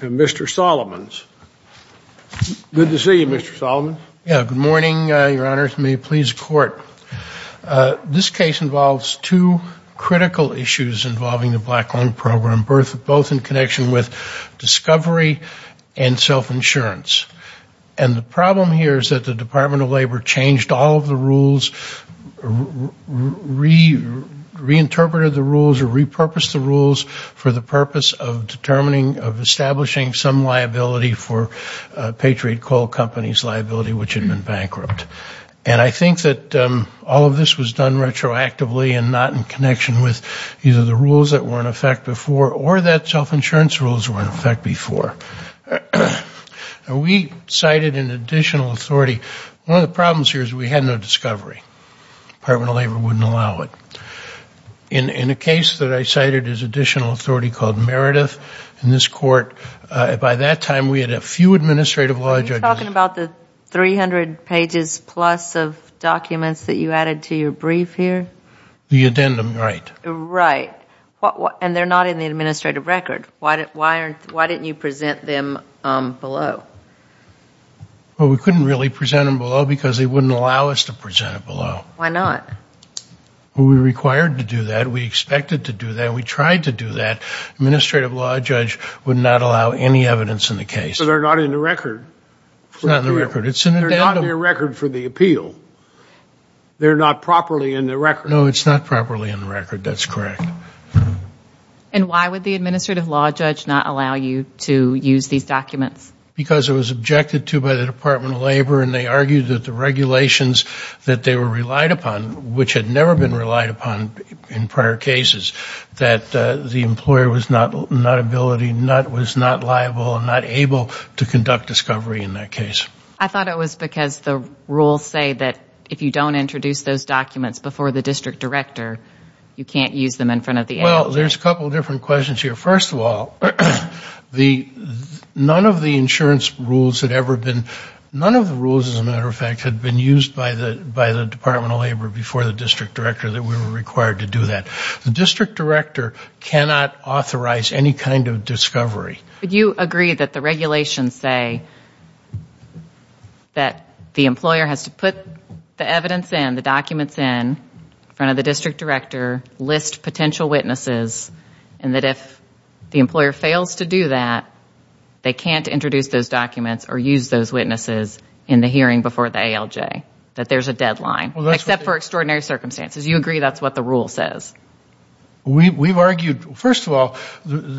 and Mr. Solomons. Good to see you, Mr. Solomons. Yeah, good morning, Your Honor. May it please the Court. This case involves two critical issues involving the Black Lung Program, both in connection with discovery and self-insurance. And the problem here is that the Department of Labor changed all of the rules, reinterpreted the rules or repurposed the rules for the purpose of determining, of establishing some liability for Patriot Coal Company's liability, which had been bankrupt. And I think that all of this was done retroactively and not in connection with either the rules that were in effect before or that self-insurance rules were in effect before. We cited an additional authority. One of the problems here is we had no discovery. Department of Labor wouldn't allow it. In a case that I cited as additional authority called Meredith in this Court, by that time we had a few administrative law judges. Are you talking about the 300 pages plus of documents that you added to your brief here? The addendum, right. Right. And they're not in the administrative record. Why didn't you present them below? Well, we couldn't really present them below because they wouldn't allow us to present them below. Why not? We were required to do that. We expected to do that. We tried to do that. Administrative law judge would not allow any evidence in the case. So they're not in the record? It's not in the record. It's in the addendum. It's not in the record for the appeal. They're not properly in the record. No, it's not properly in the record. That's correct. And why would the administrative law judge not allow you to use these documents? Because it was objected to by the Department of Labor and they argued that the regulations that they were relied upon, which had never been relied upon in prior cases, that the employer was not liable and not able to conduct discovery in that case. I thought it was because the rules say that if you don't introduce those documents before the district director, you can't use them in front of the agency. Well, there's a couple of different questions here. First of all, none of the insurance rules had ever been, none of the rules as a matter of fact had been used by the Department of Labor before the district director that we were required to do that. The district director cannot authorize any kind of discovery. Do you agree that the regulations say that the employer has to put the evidence in, the documents in, in front of the district director, list potential witnesses, and that if the employer fails to do that, they can't introduce those documents or use those witnesses in the hearing before the ALJ, that there's a deadline, except for extraordinary circumstances? You agree that's what the rule says? We've argued, first of all...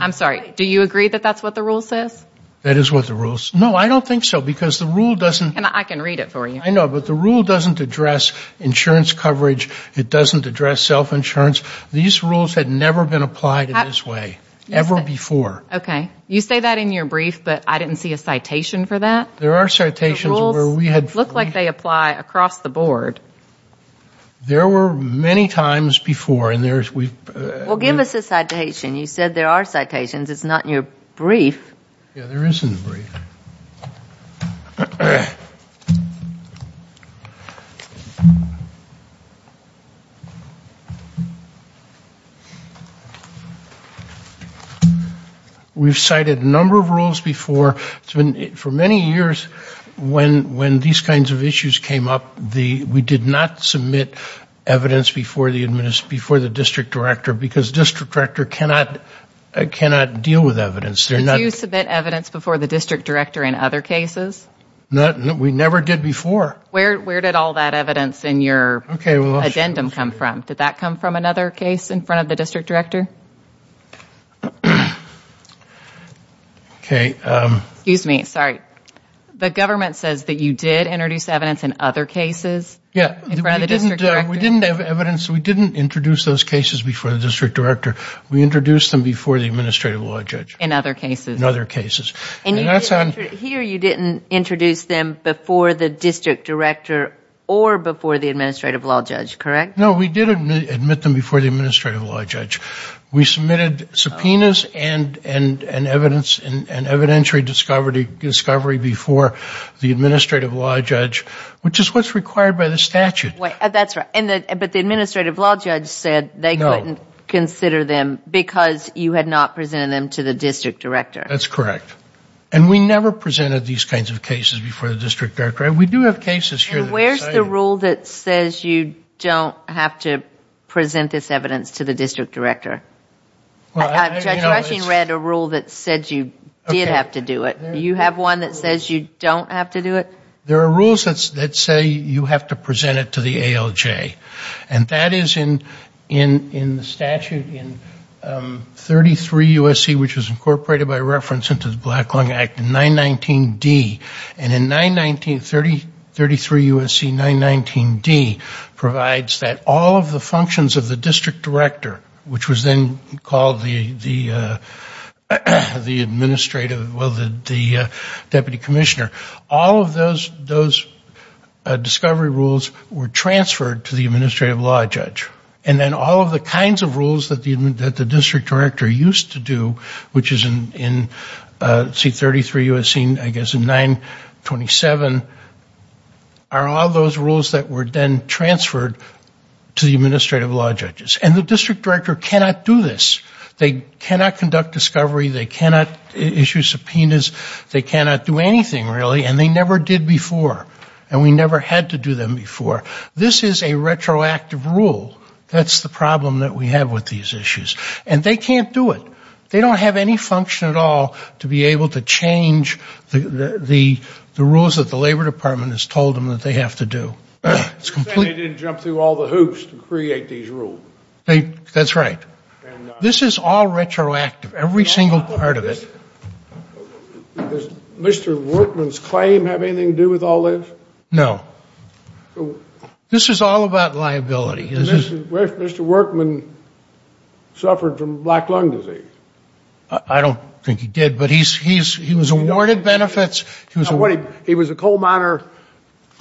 I'm sorry, do you agree that that's what the rule says? That is what the rule says. No, I don't think so, because the rule doesn't... And I can read it for you. I know, but the rule doesn't address insurance coverage, it doesn't address self-insurance. These rules had never been applied in this way, ever before. Okay. You say that in your brief, but I didn't see a citation for that? There are citations where we had... The rules look like they apply across the board. There were many times before, and there's... Well, give us a citation. You said there are citations. It's not in your brief. Yeah, there is in the brief. We've cited a number of rules before. For many years, when these kinds of issues came up, we did not submit evidence before the district director, because district director cannot deal with evidence. Did you submit evidence before the district director in other cases? No, we never did before. Where did all that evidence in your addendum come from? Did that come from another case in front of the district director? Okay. Excuse me. Sorry. The government says that you did introduce evidence in other cases? Yeah. In front of the district director? We didn't have evidence. We didn't introduce those cases before the district director. We introduced them before the administrative law judge. In other cases? In other cases. And that's on... Here, you didn't introduce them before the district director or before the administrative law judge, correct? No, we did admit them before the administrative law judge. We submitted subpoenas and evidence and evidentiary discovery before the administrative law judge, which is what's required by the statute. That's right. But the administrative law judge said they couldn't consider them because you had not presented them to the district director. That's correct. And we never presented these kinds of cases before the district director. We do have cases here that... Judge Rushing read a rule that said you did have to do it. Do you have one that says you don't have to do it? There are rules that say you have to present it to the ALJ. And that is in the statute in 33 U.S.C., which was incorporated by reference into the Black Lung Act in 919D. And in 919... 33 U.S.C., 919D provides that all of the functions of the district director, which was then called the administrative... well, the deputy commissioner, all of those discovery rules were transferred to the administrative law judge. And then all of the kinds of rules that the district director used to do, which is in C33 U.S.C., I guess in 927, are all those rules that were then transferred to the administrative law judges. And the district director cannot do this. They cannot conduct discovery. They cannot issue subpoenas. They cannot do anything, really. And they never did before. And we never had to do them before. This is a retroactive rule. That's the problem that we have with these issues. And they can't do it. They don't have any function at all to be able to change the rules that the Labor Department has told them that they have to do. They didn't jump through all the hoops to create these rules. That's right. This is all retroactive. Every single part of it. Does Mr. Workman's claim have anything to do with all this? No. This is all about liability. Did Mr. Workman suffer from black lung disease? I don't think he did. But he was awarded benefits. He was a coal miner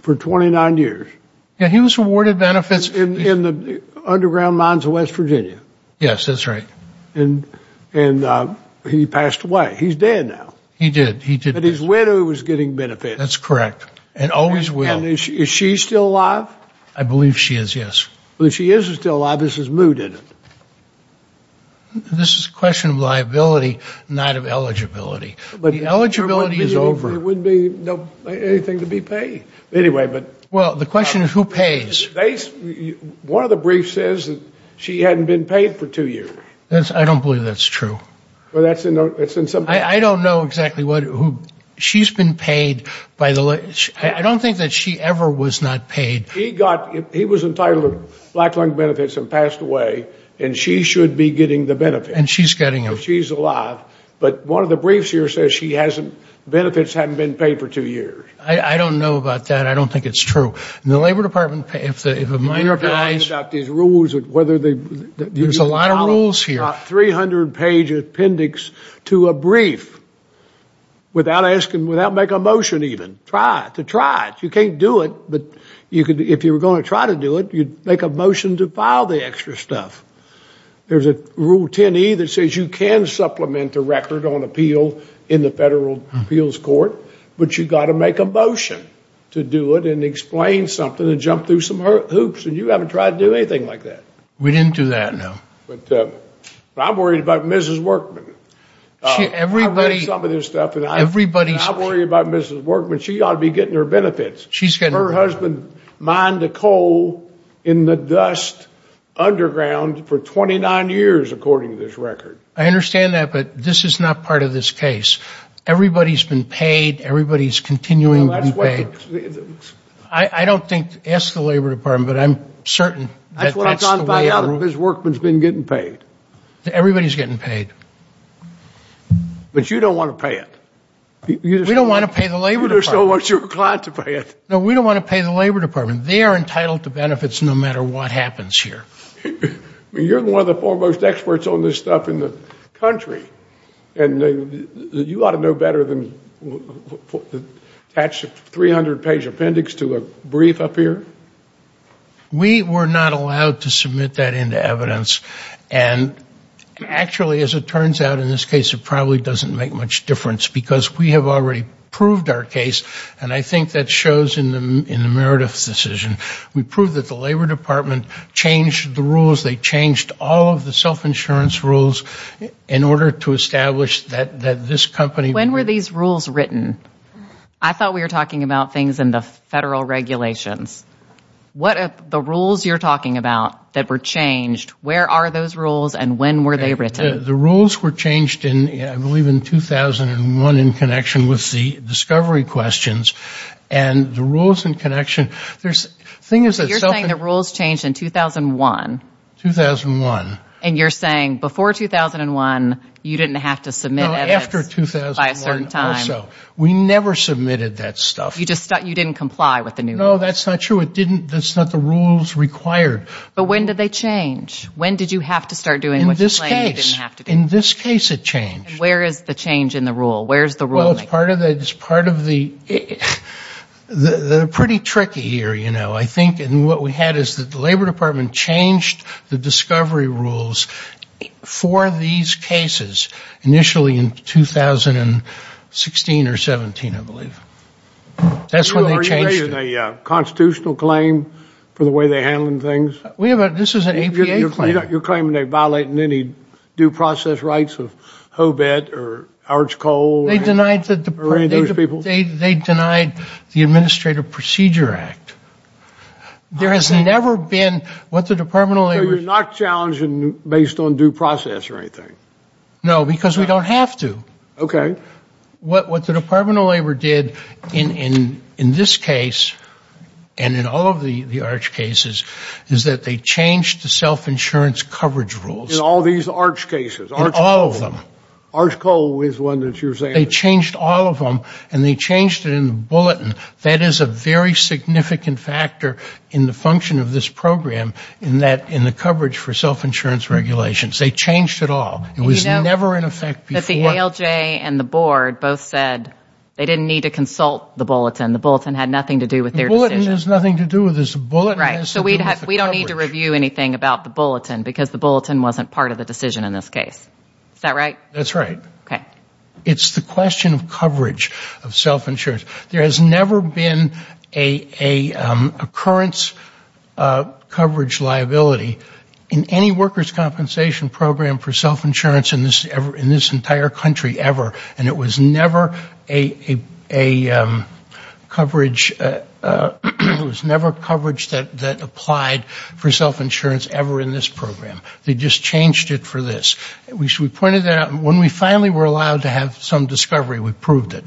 for 29 years. Yeah, he was awarded benefits. In the underground mines of West Virginia. Yes, that's right. And he passed away. He's dead now. He did. But his widow was getting benefits. That's correct. And always will. And is she still alive? I believe she is, yes. But if she isn't still alive, this is moot, isn't it? This is a question of liability, not of eligibility. The eligibility is over. There wouldn't be anything to be paid. Anyway, but. Well, the question is, who pays? One of the briefs says that she hadn't been paid for two years. I don't believe that's true. I don't know exactly who. She's been paid by the. I don't think that she ever was not paid. He was entitled to black lung benefits and passed away. And she should be getting the benefits. And she's getting them. Because she's alive. But one of the briefs here says she hasn't. Benefits haven't been paid for two years. I don't know about that. I don't think it's true. And the Labor Department, if a minor dies. You're talking about these rules, whether they. There's a lot of rules here. 300 page appendix to a brief. Without asking, without make a motion even. Try it, to try it. You can't do it. But you could, if you were going to try to do it, you'd make a motion to file the extra stuff. There's a rule 10E that says you can supplement a record on appeal in the federal appeals court. But you got to make a motion to do it and explain something and jump through some hoops. And you haven't tried to do anything like that. We didn't do that, no. But I'm worried about Mrs. Workman. I've read some of this stuff. And I'm worried about Mrs. Workman. She ought to be getting her benefits. Her husband mined a coal in the dust underground for 29 years, according to this record. I understand that, but this is not part of this case. Everybody's been paid. Everybody's continuing to be paid. I don't think, ask the Labor Department, but I'm certain that that's the way it works. Mrs. Workman's been getting paid. Everybody's getting paid. But you don't want to pay it. We don't want to pay the Labor Department. No, we don't want to pay the Labor Department. They are entitled to benefits no matter what happens here. You're one of the foremost experts on this stuff in the country. And you ought to know better than attach a 300-page appendix to a brief up here. We were not allowed to submit that into evidence. And actually, as it turns out in this case, it probably doesn't make much difference because we have already proved our case. And I think that shows in the Meredith decision. We proved that the Labor Department changed the rules. They changed all of the self-insurance rules in order to establish that this company... When were these rules written? I thought we were talking about things in the federal regulations. What are the rules you're talking about that were changed? Where are those rules, and when were they written? The rules were changed, I believe, in 2001 in connection with the discovery questions. And the rules in connection... You're saying the rules changed in 2001? 2001. And you're saying before 2001, you didn't have to submit evidence by a certain time? No, after 2001 or so. We never submitted that stuff. You didn't comply with the new rules? No, that's not true. That's not the rules required. But when did they change? When did you have to start doing what you claimed you didn't have to do? In this case, it changed. Where is the change in the rule? Where is the ruling? Well, it's part of the... They're pretty tricky here, you know. I think what we had is that the Labor Department changed the discovery rules for these cases initially in 2016 or 17, I believe. That's when they changed it. Are you raising a constitutional claim for the way they're handling things? This is an APA claim. You're claiming they're violating any due process rights of Hobart or Arch Cole or any of those people? They denied the Administrative Procedure Act. There has never been what the Department of Labor... So you're not challenging based on due process or anything? No, because we don't have to. Okay. What the Department of Labor did in this case and in all of the Arch cases is that they changed the self-insurance coverage rules. In all these Arch cases? In all of them. Arch Cole is one that you're saying... They changed all of them and they changed it in the bulletin. That is a very significant factor in the function of this program in the coverage for self-insurance regulations. They changed it all. It was never in effect before. Because the ALJ and the board both said they didn't need to consult the bulletin. The bulletin had nothing to do with their decision. The bulletin has nothing to do with this. The bulletin has to do with the coverage. Right. So we don't need to review anything about the bulletin because the bulletin wasn't part of the decision in this case. Is that right? That's right. Okay. It's the question of coverage of self-insurance. There has never been a occurrence coverage liability in any workers' compensation program for self-insurance in this entire country ever. And it was never a coverage that applied for self-insurance ever in this program. They just changed it for this. We pointed that out. When we finally were allowed to have some discovery, we proved it.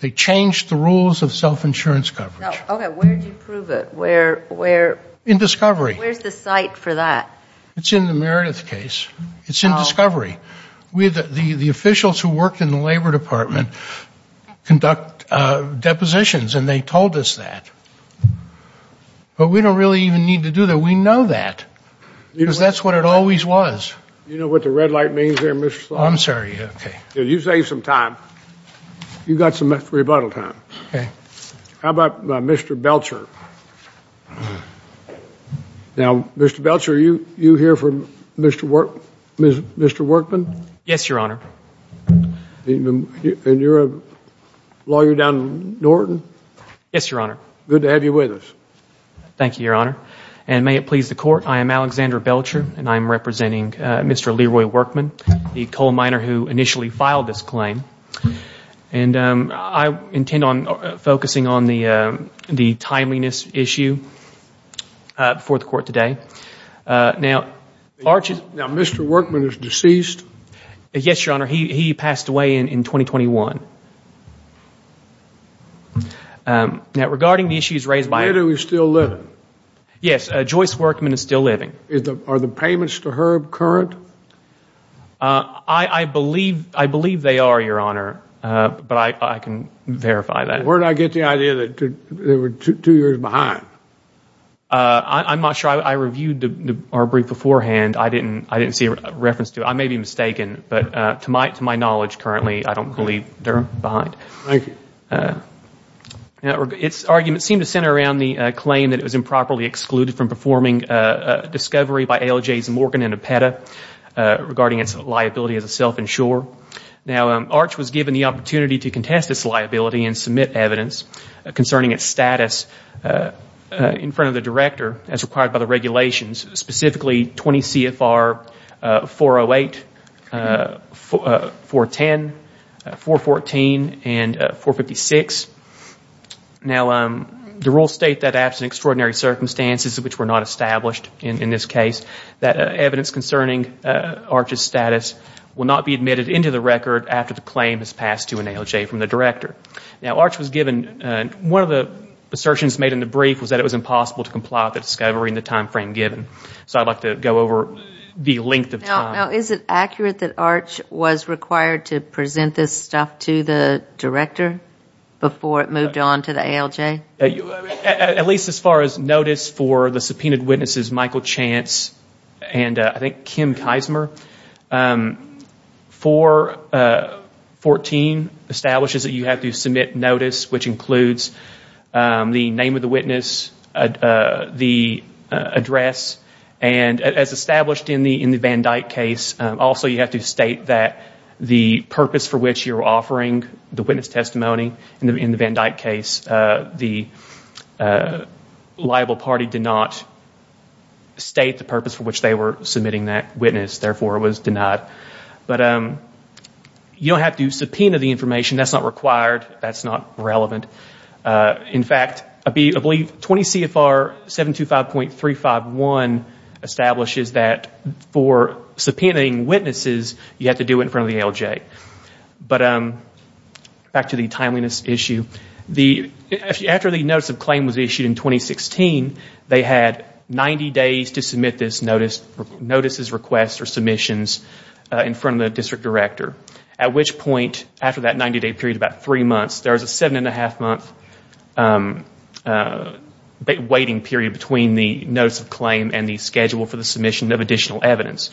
They changed the rules of self-insurance coverage. Okay. Where did you prove it? Where? In discovery. Where's the site for that? It's in the Meredith case. It's in discovery. The officials who worked in the labor department conduct depositions and they told us that. But we don't really even need to do that. We know that. Because that's what it always was. Do you know what the red light means there, Mr. Thornton? I'm sorry. Okay. You saved some time. You got some rebuttal time. Okay. How about Mr. Belcher? Now, Mr. Belcher, are you here for Mr. Workman? Yes, Your Honor. And you're a lawyer down in Norton? Yes, Your Honor. Good to have you with us. Thank you, Your Honor. And may it please the Court, I am Alexander Belcher and I am representing Mr. Leroy Workman, the coal miner who initially filed this claim. And I intend on focusing on the timeliness issue before the Court today. Now, Mr. Workman is deceased? Yes, Your Honor. He passed away in 2021. Now, regarding the issues raised by Where do we still live? Yes, Joyce Workman is still living. Are the payments to HERB current? I believe they are, Your Honor, but I can verify that. Where did I get the idea that they were two years behind? I'm not sure. I reviewed our brief beforehand. I didn't see a reference to it. I may be mistaken, but to my knowledge currently, I don't believe they're behind. Thank you. Now, its arguments seem to center around the claim that it was improperly excluded from performing a discovery by ALJs Morgan and Epeta regarding its liability as a self-insurer. Now, ARCH was given the opportunity to contest this liability and submit evidence concerning its status in front of the Director as required by the regulations, specifically 20 CFR 408, 410, 414, and 456. Now, the rules state that absent extraordinary circumstances, which were not established in this case, that evidence concerning ARCH's status will not be admitted into the record after the claim is passed to an ALJ from the Director. Now, ARCH was given, one of the assertions made in the brief was that it was impossible to comply with the discovery in the time frame given. So I'd like to go over the length of time. Now, is it accurate that ARCH was required to present this stuff to the Director before it moved on to the ALJ? At least as far as notice for the subpoenaed witnesses, Michael Chance and I think Kim Keismer, 414 establishes that you have to submit notice, which includes the name of the witness, the address, and as established in the Van Dyck case, also you have to state that the purpose for which you're offering the witness testimony in the Van Dyck case, the liable party did not state the purpose for which they were submitting that witness, therefore it was denied. But you don't have to subpoena the information. That's not required. That's not relevant. In fact, I believe 20 CFR 725.351 establishes that for subpoenaing witnesses you have to do it in front of the ALJ. But back to the timeliness issue. After the notice of claim was issued in 2016, they had 90 days to submit this notice, notices, requests, or submissions in front of the District Director. At which point, after that 90 day period, about three months, there's a seven and a half month waiting period between the notice of claim and the schedule for the submission of additional evidence.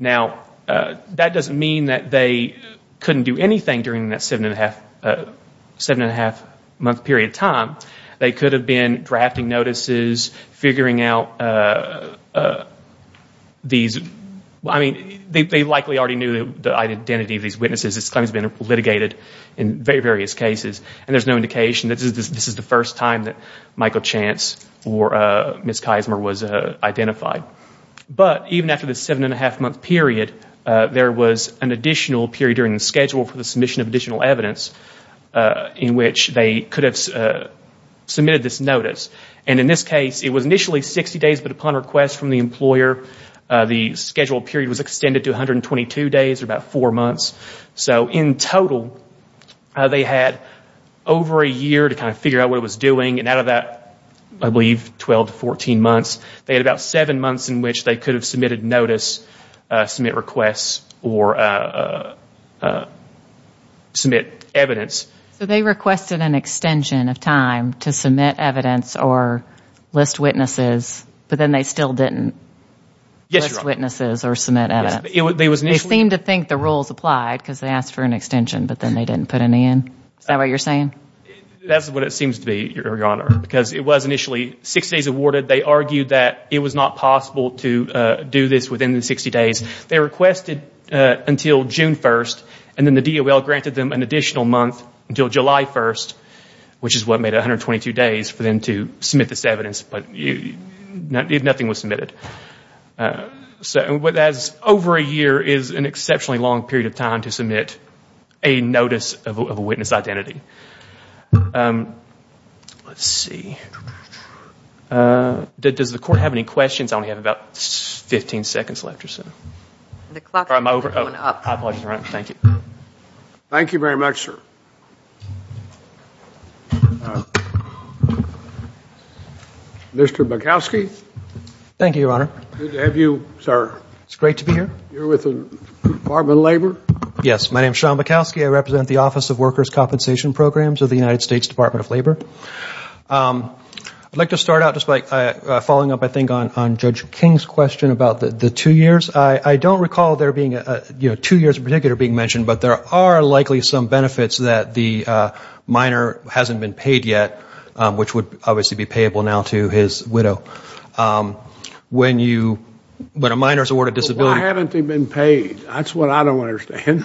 Now, that doesn't mean that they couldn't do anything during that seven and a half month period of time. They could have been drafting notices, figuring out these, I mean, they likely already knew the identity of these witnesses. This claim has been litigated in various cases. And there's no indication that this is the first time that Michael Chance or Ms. Keismer was identified. But even after the seven and a half month period, there was an additional period during the schedule for the submission of additional evidence in which they could have submitted this notice. And in this case, it was initially 60 days, but upon request from the employer, the scheduled period was extended to 122 days, or about four months. So in total, they had over a year to kind of figure out what it was doing. And out of that, I believe, 12 to 14 months, they had about seven months in which they could have submitted notice, submit requests, or submit evidence. So they requested an extension of time to submit evidence or list witnesses, but then they still didn't list witnesses or submit evidence. They seemed to think the rules applied because they asked for an extension, but then they didn't put any in. Is that what you're saying? That's what it seems to be, Your Honor, because it was initially six days awarded. They argued that it was not possible to do this within the 60 days. They requested until June 1st, and then the DOL granted them an additional month until July 1st, which is what made it 122 days for them to submit this evidence. But nothing was submitted. So what that is, over a year is an exceptionally long period of time to submit a notice of a witness identity. Let's see. Does the Court have any questions? I only have about 15 seconds left or so. The clock is going up. Thank you very much, sir. Mr. Bukowski? Thank you, Your Honor. It's great to be here. You're with the Department of Labor? Yes, my name is Sean Bukowski. I represent the Office of Workers' Compensation Programs of the United States Department of Labor. I'd like to start out just by following up, I think, on Judge King's question about the two years. I don't recall two years in particular being mentioned, but there are likely some benefits that the minor hasn't been paid yet, which would obviously be payable now to his widow. When a minor is awarded disability... Why haven't they been paid? That's what I don't understand.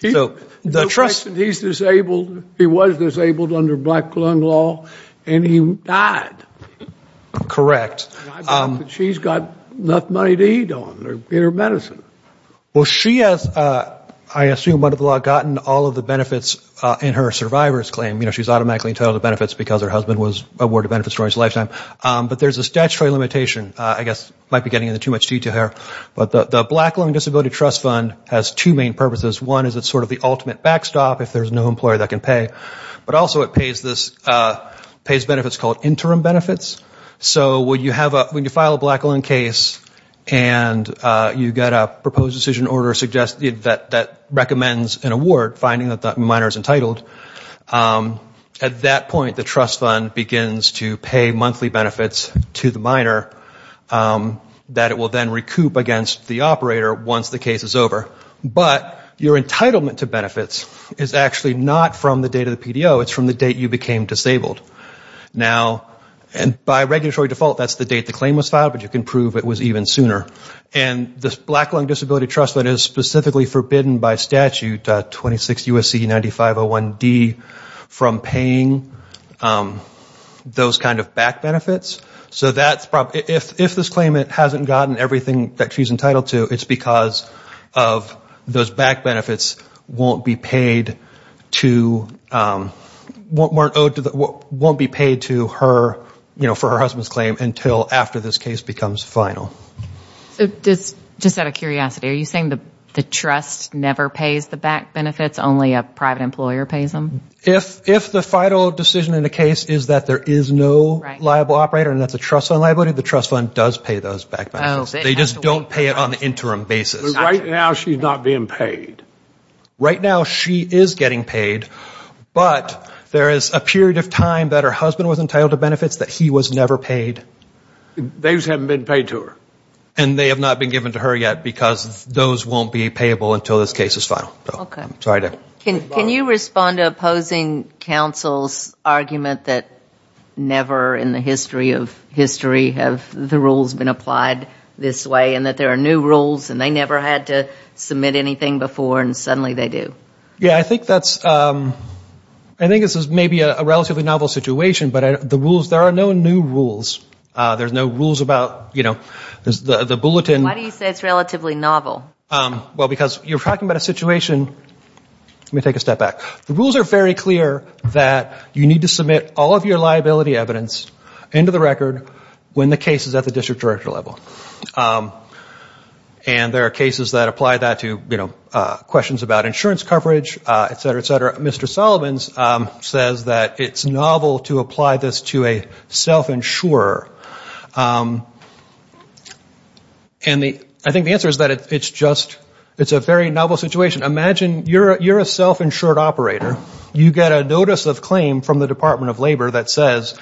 He was disabled under black lung law, and he died. Correct. She's got enough money to eat on, or get her medicine. Well, she has, I assume, under the law, gotten all of the benefits in her survivor's claim. You know, she was automatically entitled to benefits because her husband was awarded benefits for his lifetime. But there's a statutory limitation. I guess I might be getting into too much detail here. But the Black Lung Disability Trust Fund has two main purposes. One is it's sort of the ultimate backstop if there's no employer that can pay. But also it pays benefits called interim benefits. So when you file a black lung case and you get a proposed decision order that recommends an award, finding that the minor is entitled, at that point the trust fund begins to pay monthly benefits to the minor that it will then recoup against the operator once the case is over. But your entitlement to benefits is actually not from the date of the PDO. It's from the date you became disabled. Now, by regulatory default, that's the date the claim was filed, but you can prove it was even sooner. And the Black Lung Disability Trust Fund is specifically forbidden by statute 26 U.S.C. 9501D from paying those kind of back benefits. So if this claimant hasn't gotten everything that she's entitled to, it's because of those back benefits won't be paid to her, you know, for her husband's claim until after this case becomes final. So just out of curiosity, are you saying the trust never pays the back benefits, only a private employer pays them? If the final decision in the case is that there is no liable operator and that's a trust fund liability, the trust fund does pay those back benefits. They just don't pay it on the interim basis. Right now she's not being paid. Right now she is getting paid, but there is a period of time that her husband was entitled to benefits that he was never paid. Those haven't been paid to her. And they have not been given to her yet, because those won't be payable until this case is final. Can you respond to opposing counsel's argument that never in the history of history have the rules been applied this way and that there are new rules and they never had to submit anything before and suddenly they do? Yeah, I think this is maybe a relatively novel situation, but the rules, there are no new rules. There's no rules about, you know, the bulletin. Why do you say it's relatively novel? Well, because you're talking about a situation, let me take a step back. The rules are very clear that you need to submit all of your liability evidence into the record when the case is at the district director level. And there are cases that apply that to, you know, questions about insurance coverage, et cetera, et cetera. Mr. Solomon's says that it's novel to apply this to a self-insurer. And I think the answer is that it's just, it's a very novel situation. Imagine you're a self-insured operator. You get a notice of claim from the Department of Labor that says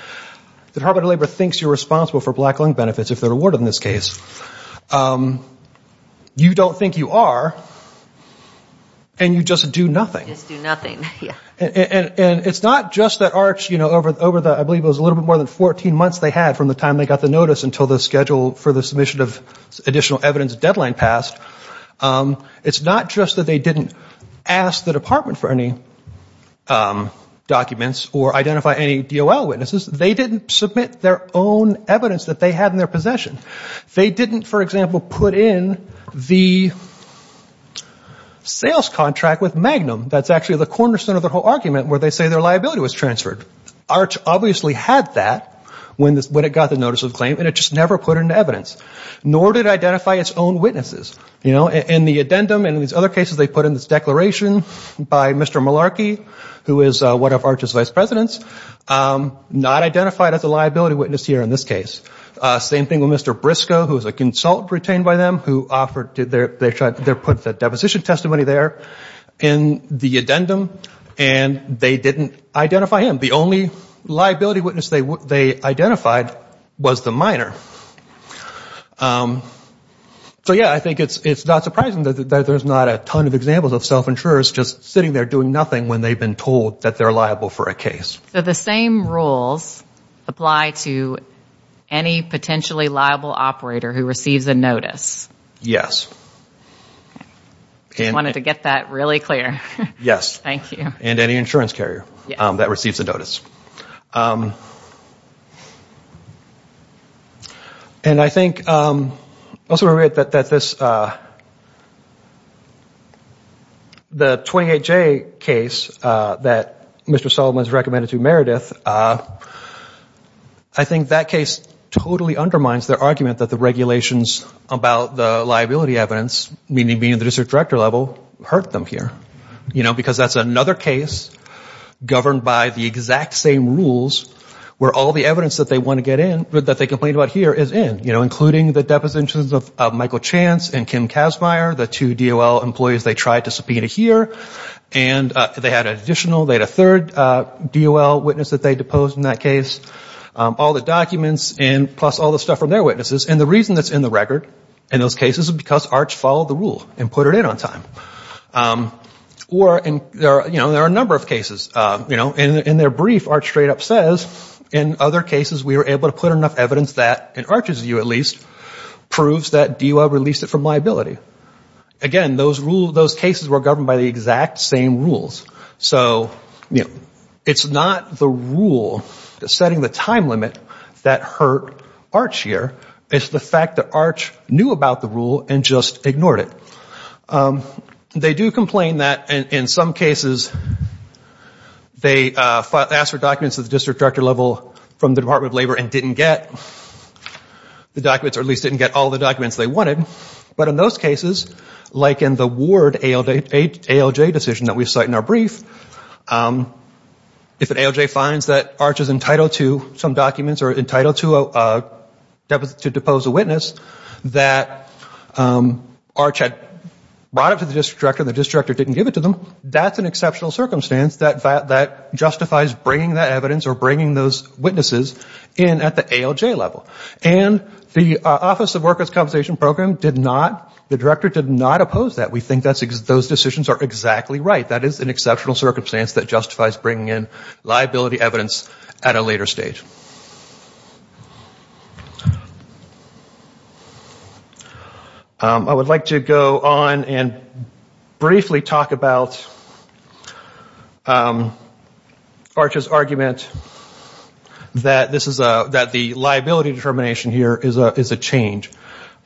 the Department of Labor thinks you're responsible for black lung benefits if they're awarded in this case. You don't think you are, and you just do nothing. Just do nothing, yeah. And it's not just that Arch, you know, over the, I believe it was a little bit more than 14 months they had from the time they got the notice until the schedule for the submission of additional evidence deadline passed. It's not just that they didn't ask the department for any documents or identify any DOL witnesses. They didn't submit their own evidence that they had in their possession. They didn't, for example, put in the sales contract with Magnum. That's actually the cornerstone of their whole argument where they say their liability was transferred. Arch obviously had that when it got the notice of claim, and it just never put it into evidence. Nor did it identify its own witnesses. In the addendum and these other cases they put in this declaration by Mr. Malarkey, who is one of Arch's vice presidents, not identified as a liability witness here in this case. Same thing with Mr. Briscoe, who was a consultant retained by them, who put the deposition testimony there in the addendum, and they didn't identify him. The only liability witness they identified was the minor. So, yeah, I think it's not surprising that there's not a ton of examples of self-insurers just sitting there doing nothing when they've been told that they're liable for a case. So the same rules apply to any potentially liable operator who receives a notice. Yes. I just wanted to get that really clear. Yes, and any insurance carrier that receives a notice. And I think also that this, the 28J case that Mr. Solomon's recommended to Meredith, I think that case totally undermines their argument that the regulations about the liability evidence, meaning being at the district director level, hurt them here. Because that's another case governed by the exact same rules where all the evidence that they want to get in, that they complained about here, is in, including the depositions of Michael Chance and Kim Kazmaier, the two DOL employees they tried to subpoena here. And they had an additional, they had a third DOL witness that they deposed in that case. All the documents and plus all the stuff from their witnesses. And the reason that's in the record in those cases is because ARCH followed the rule and put it in on time. Or there are a number of cases. In their brief, ARCH straight up says, in other cases we were able to put enough evidence that, in ARCH's view at least, proves that DOL released it from liability. Again, those cases were governed by the exact same rules. So, you know, it's not the rule, setting the time limit, that hurt ARCH here. It's the fact that ARCH knew about the rule and just ignored it. They do complain that in some cases, they asked for documents at the district director level from the Department of Labor and didn't get the documents, or at least didn't get all the documents they wanted. But in those cases, like in the Ward ALJ decision that we cite in our brief, if an ALJ finds that ARCH is entitled to some documents, or entitled to depose a witness, that ARCH had brought it to the district director and the district director didn't give it to them, that's an exceptional circumstance that justifies bringing that evidence or bringing those witnesses in at the ALJ level. And the Office of Workers' Compensation Program did not, the director did not oppose that. We think those decisions are exactly right. That is an exceptional circumstance that justifies bringing in liability evidence at a later stage. I would like to go on and briefly talk about ARCH's argument that the liability determination here is a change.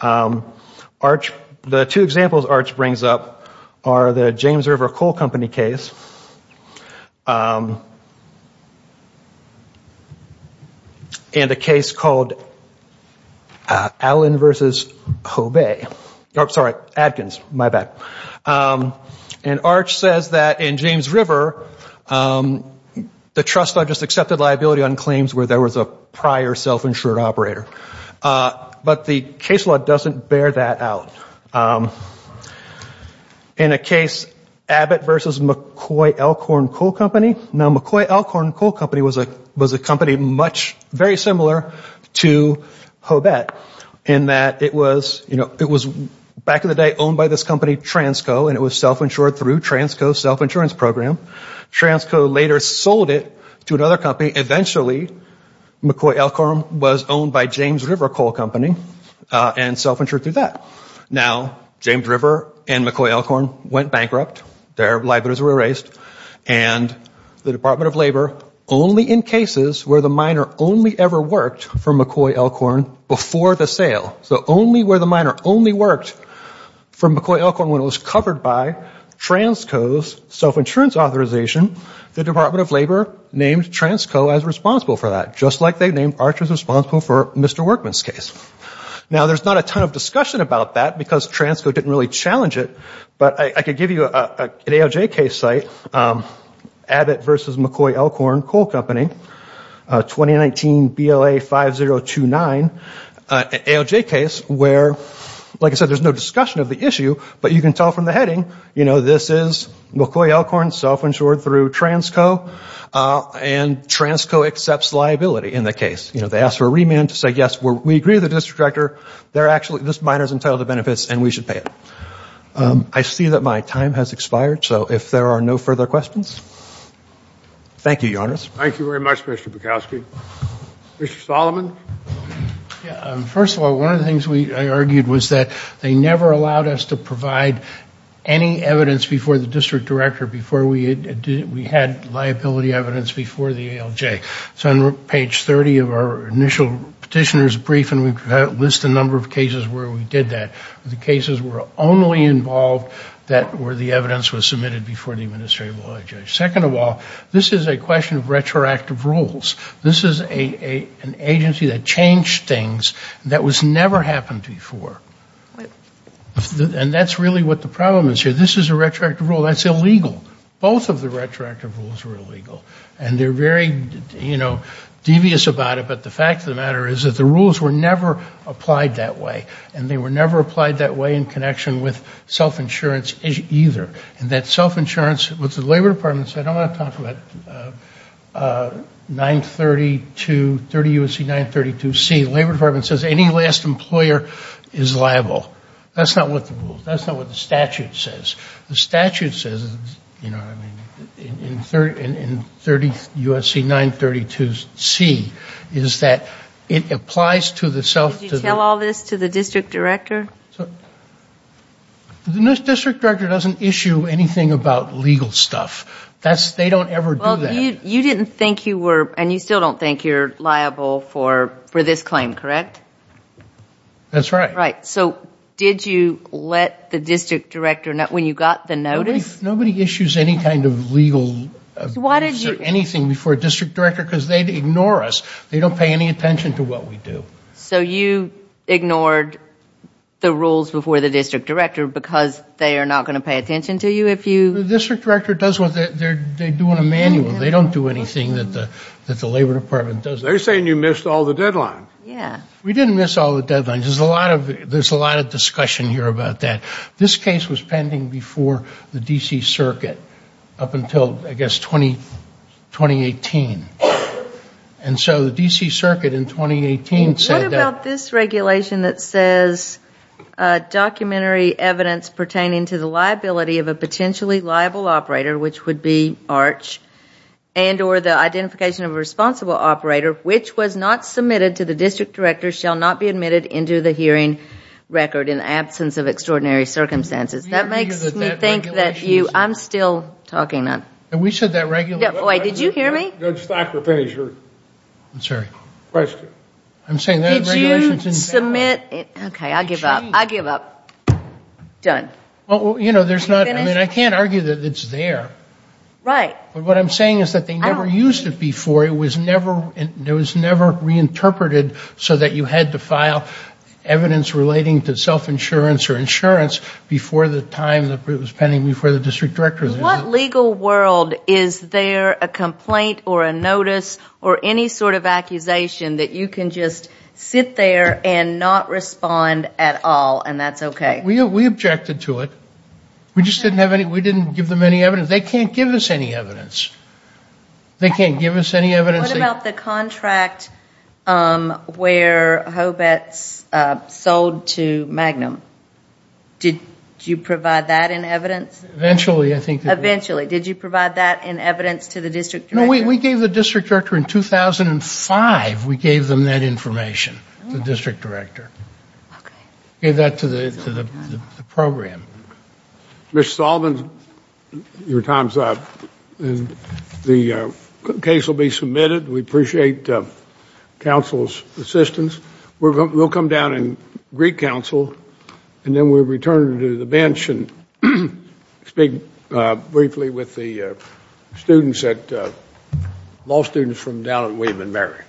The two examples ARCH brings up are the James River Coal Company case, and a case called Allen v. Hobay, sorry, Adkins, my bad. And ARCH says that in James River, the trust just accepted liability on claims where there was a prior self-insured operator. But the case law doesn't bear that out. In a case, Abbott v. McCoy Elkhorn Coal Company, now McCoy Elkhorn Coal Company was a company much, very similar to Hobay, in that it was back in the day owned by this company, Transco, and it was self-insured through Transco's self-insurance program. Transco later sold it to another company. Eventually McCoy Elkhorn was owned by James River Coal Company and it was self-insured through that. Now James River and McCoy Elkhorn went bankrupt, their liabilities were erased, and the Department of Labor, only in cases where the miner only ever worked for McCoy Elkhorn before the sale, so only where the miner only worked for McCoy Elkhorn when it was covered by Transco's self-insurance authorization, the Department of Labor named Transco as responsible for that, just like they named Archer as responsible for Mr. Workman's case. Now there's not a ton of discussion about that, because Transco didn't really challenge it, but I could give you an ALJ case site, Abbott v. McCoy Elkhorn Coal Company, 2019 BLA 5029, an ALJ case where, like I said, but you can tell from the heading, this is McCoy Elkhorn, self-insured through Transco, and Transco accepts liability in the case. They ask for a remand to say, yes, we agree with the district director, this miner's entitled to benefits and we should pay it. I see that my time has expired, so if there are no further questions? Thank you, Your Honors. Thank you very much, Mr. Bukowski. Mr. Solomon? First of all, one of the things I argued was that they never allowed us to provide any evidence before the district director before we had liability evidence before the ALJ. So on page 30 of our initial petitioner's brief, and we've listed a number of cases where we did that, the cases were only involved where the evidence was submitted before the administrative law judge. Second of all, this is a question of retroactive rules. This is an agency that changed things that was never happened before. And that's really what the problem is here. This is a retroactive rule. That's illegal. Both of the retroactive rules were illegal. And they're very, you know, devious about it, but the fact of the matter is that the rules were never applied that way. And they were never applied that way in connection with self-insurance either. And that self-insurance, what the Labor Department said, I don't want to talk about 932, 30 U.S.C. 932C. The Labor Department says any last employer is liable. That's not what the rules, that's not what the statute says. The statute says, you know what I mean, in 30 U.S.C. 932C, is that it applies to the self- Did you tell all this to the district director? The district director doesn't issue anything about legal stuff. They don't ever do that. And you still don't think you're liable for this claim, correct? That's right. So did you let the district director know when you got the notice? Nobody issues any kind of legal or anything before a district director because they ignore us. They don't pay any attention to what we do. So you ignored the rules before the district director because they are not going to pay attention to you if you The district director does what they do in a manual. They don't do anything that the Labor Department does. They're saying you missed all the deadlines. We didn't miss all the deadlines. There's a lot of discussion here about that. This case was pending before the D.C. Circuit up until, I guess, 2018. And so the D.C. Circuit in 2018 said that What about this regulation that says Documentary evidence pertaining to the liability of a potentially liable operator, which would be ARCH and or the identification of a responsible operator which was not submitted to the district director shall not be admitted into the hearing record in absence of extraordinary circumstances. That makes me think that you I'm still talking. Wait, did you hear me? Judge Thacker, finish your question. Did you submit Okay, I give up. Done. I can't argue that it's there. But what I'm saying is that they never used it before It was never reinterpreted so that you had to file evidence relating to self-insurance or insurance before the time that it was pending before the district director In what legal world is there a complaint or a notice or any sort of accusation that you can just sit there and not respond at all and that's okay? We objected to it. We just didn't have any We didn't give them any evidence. They can't give us any evidence. They can't give us any evidence What about the contract where Hobetz sold to Magnum? Did you provide that in evidence? Eventually. Did you provide that in evidence to the district director? No, we gave the district director in 2005 We gave them that information. The district director. Okay. We gave that to the program. Ms. Sullivan, your time is up. The case will be submitted. We appreciate counsel's assistance. We'll come down and greet counsel and then we'll return to the bench and speak briefly with the law students from down at William & Mary.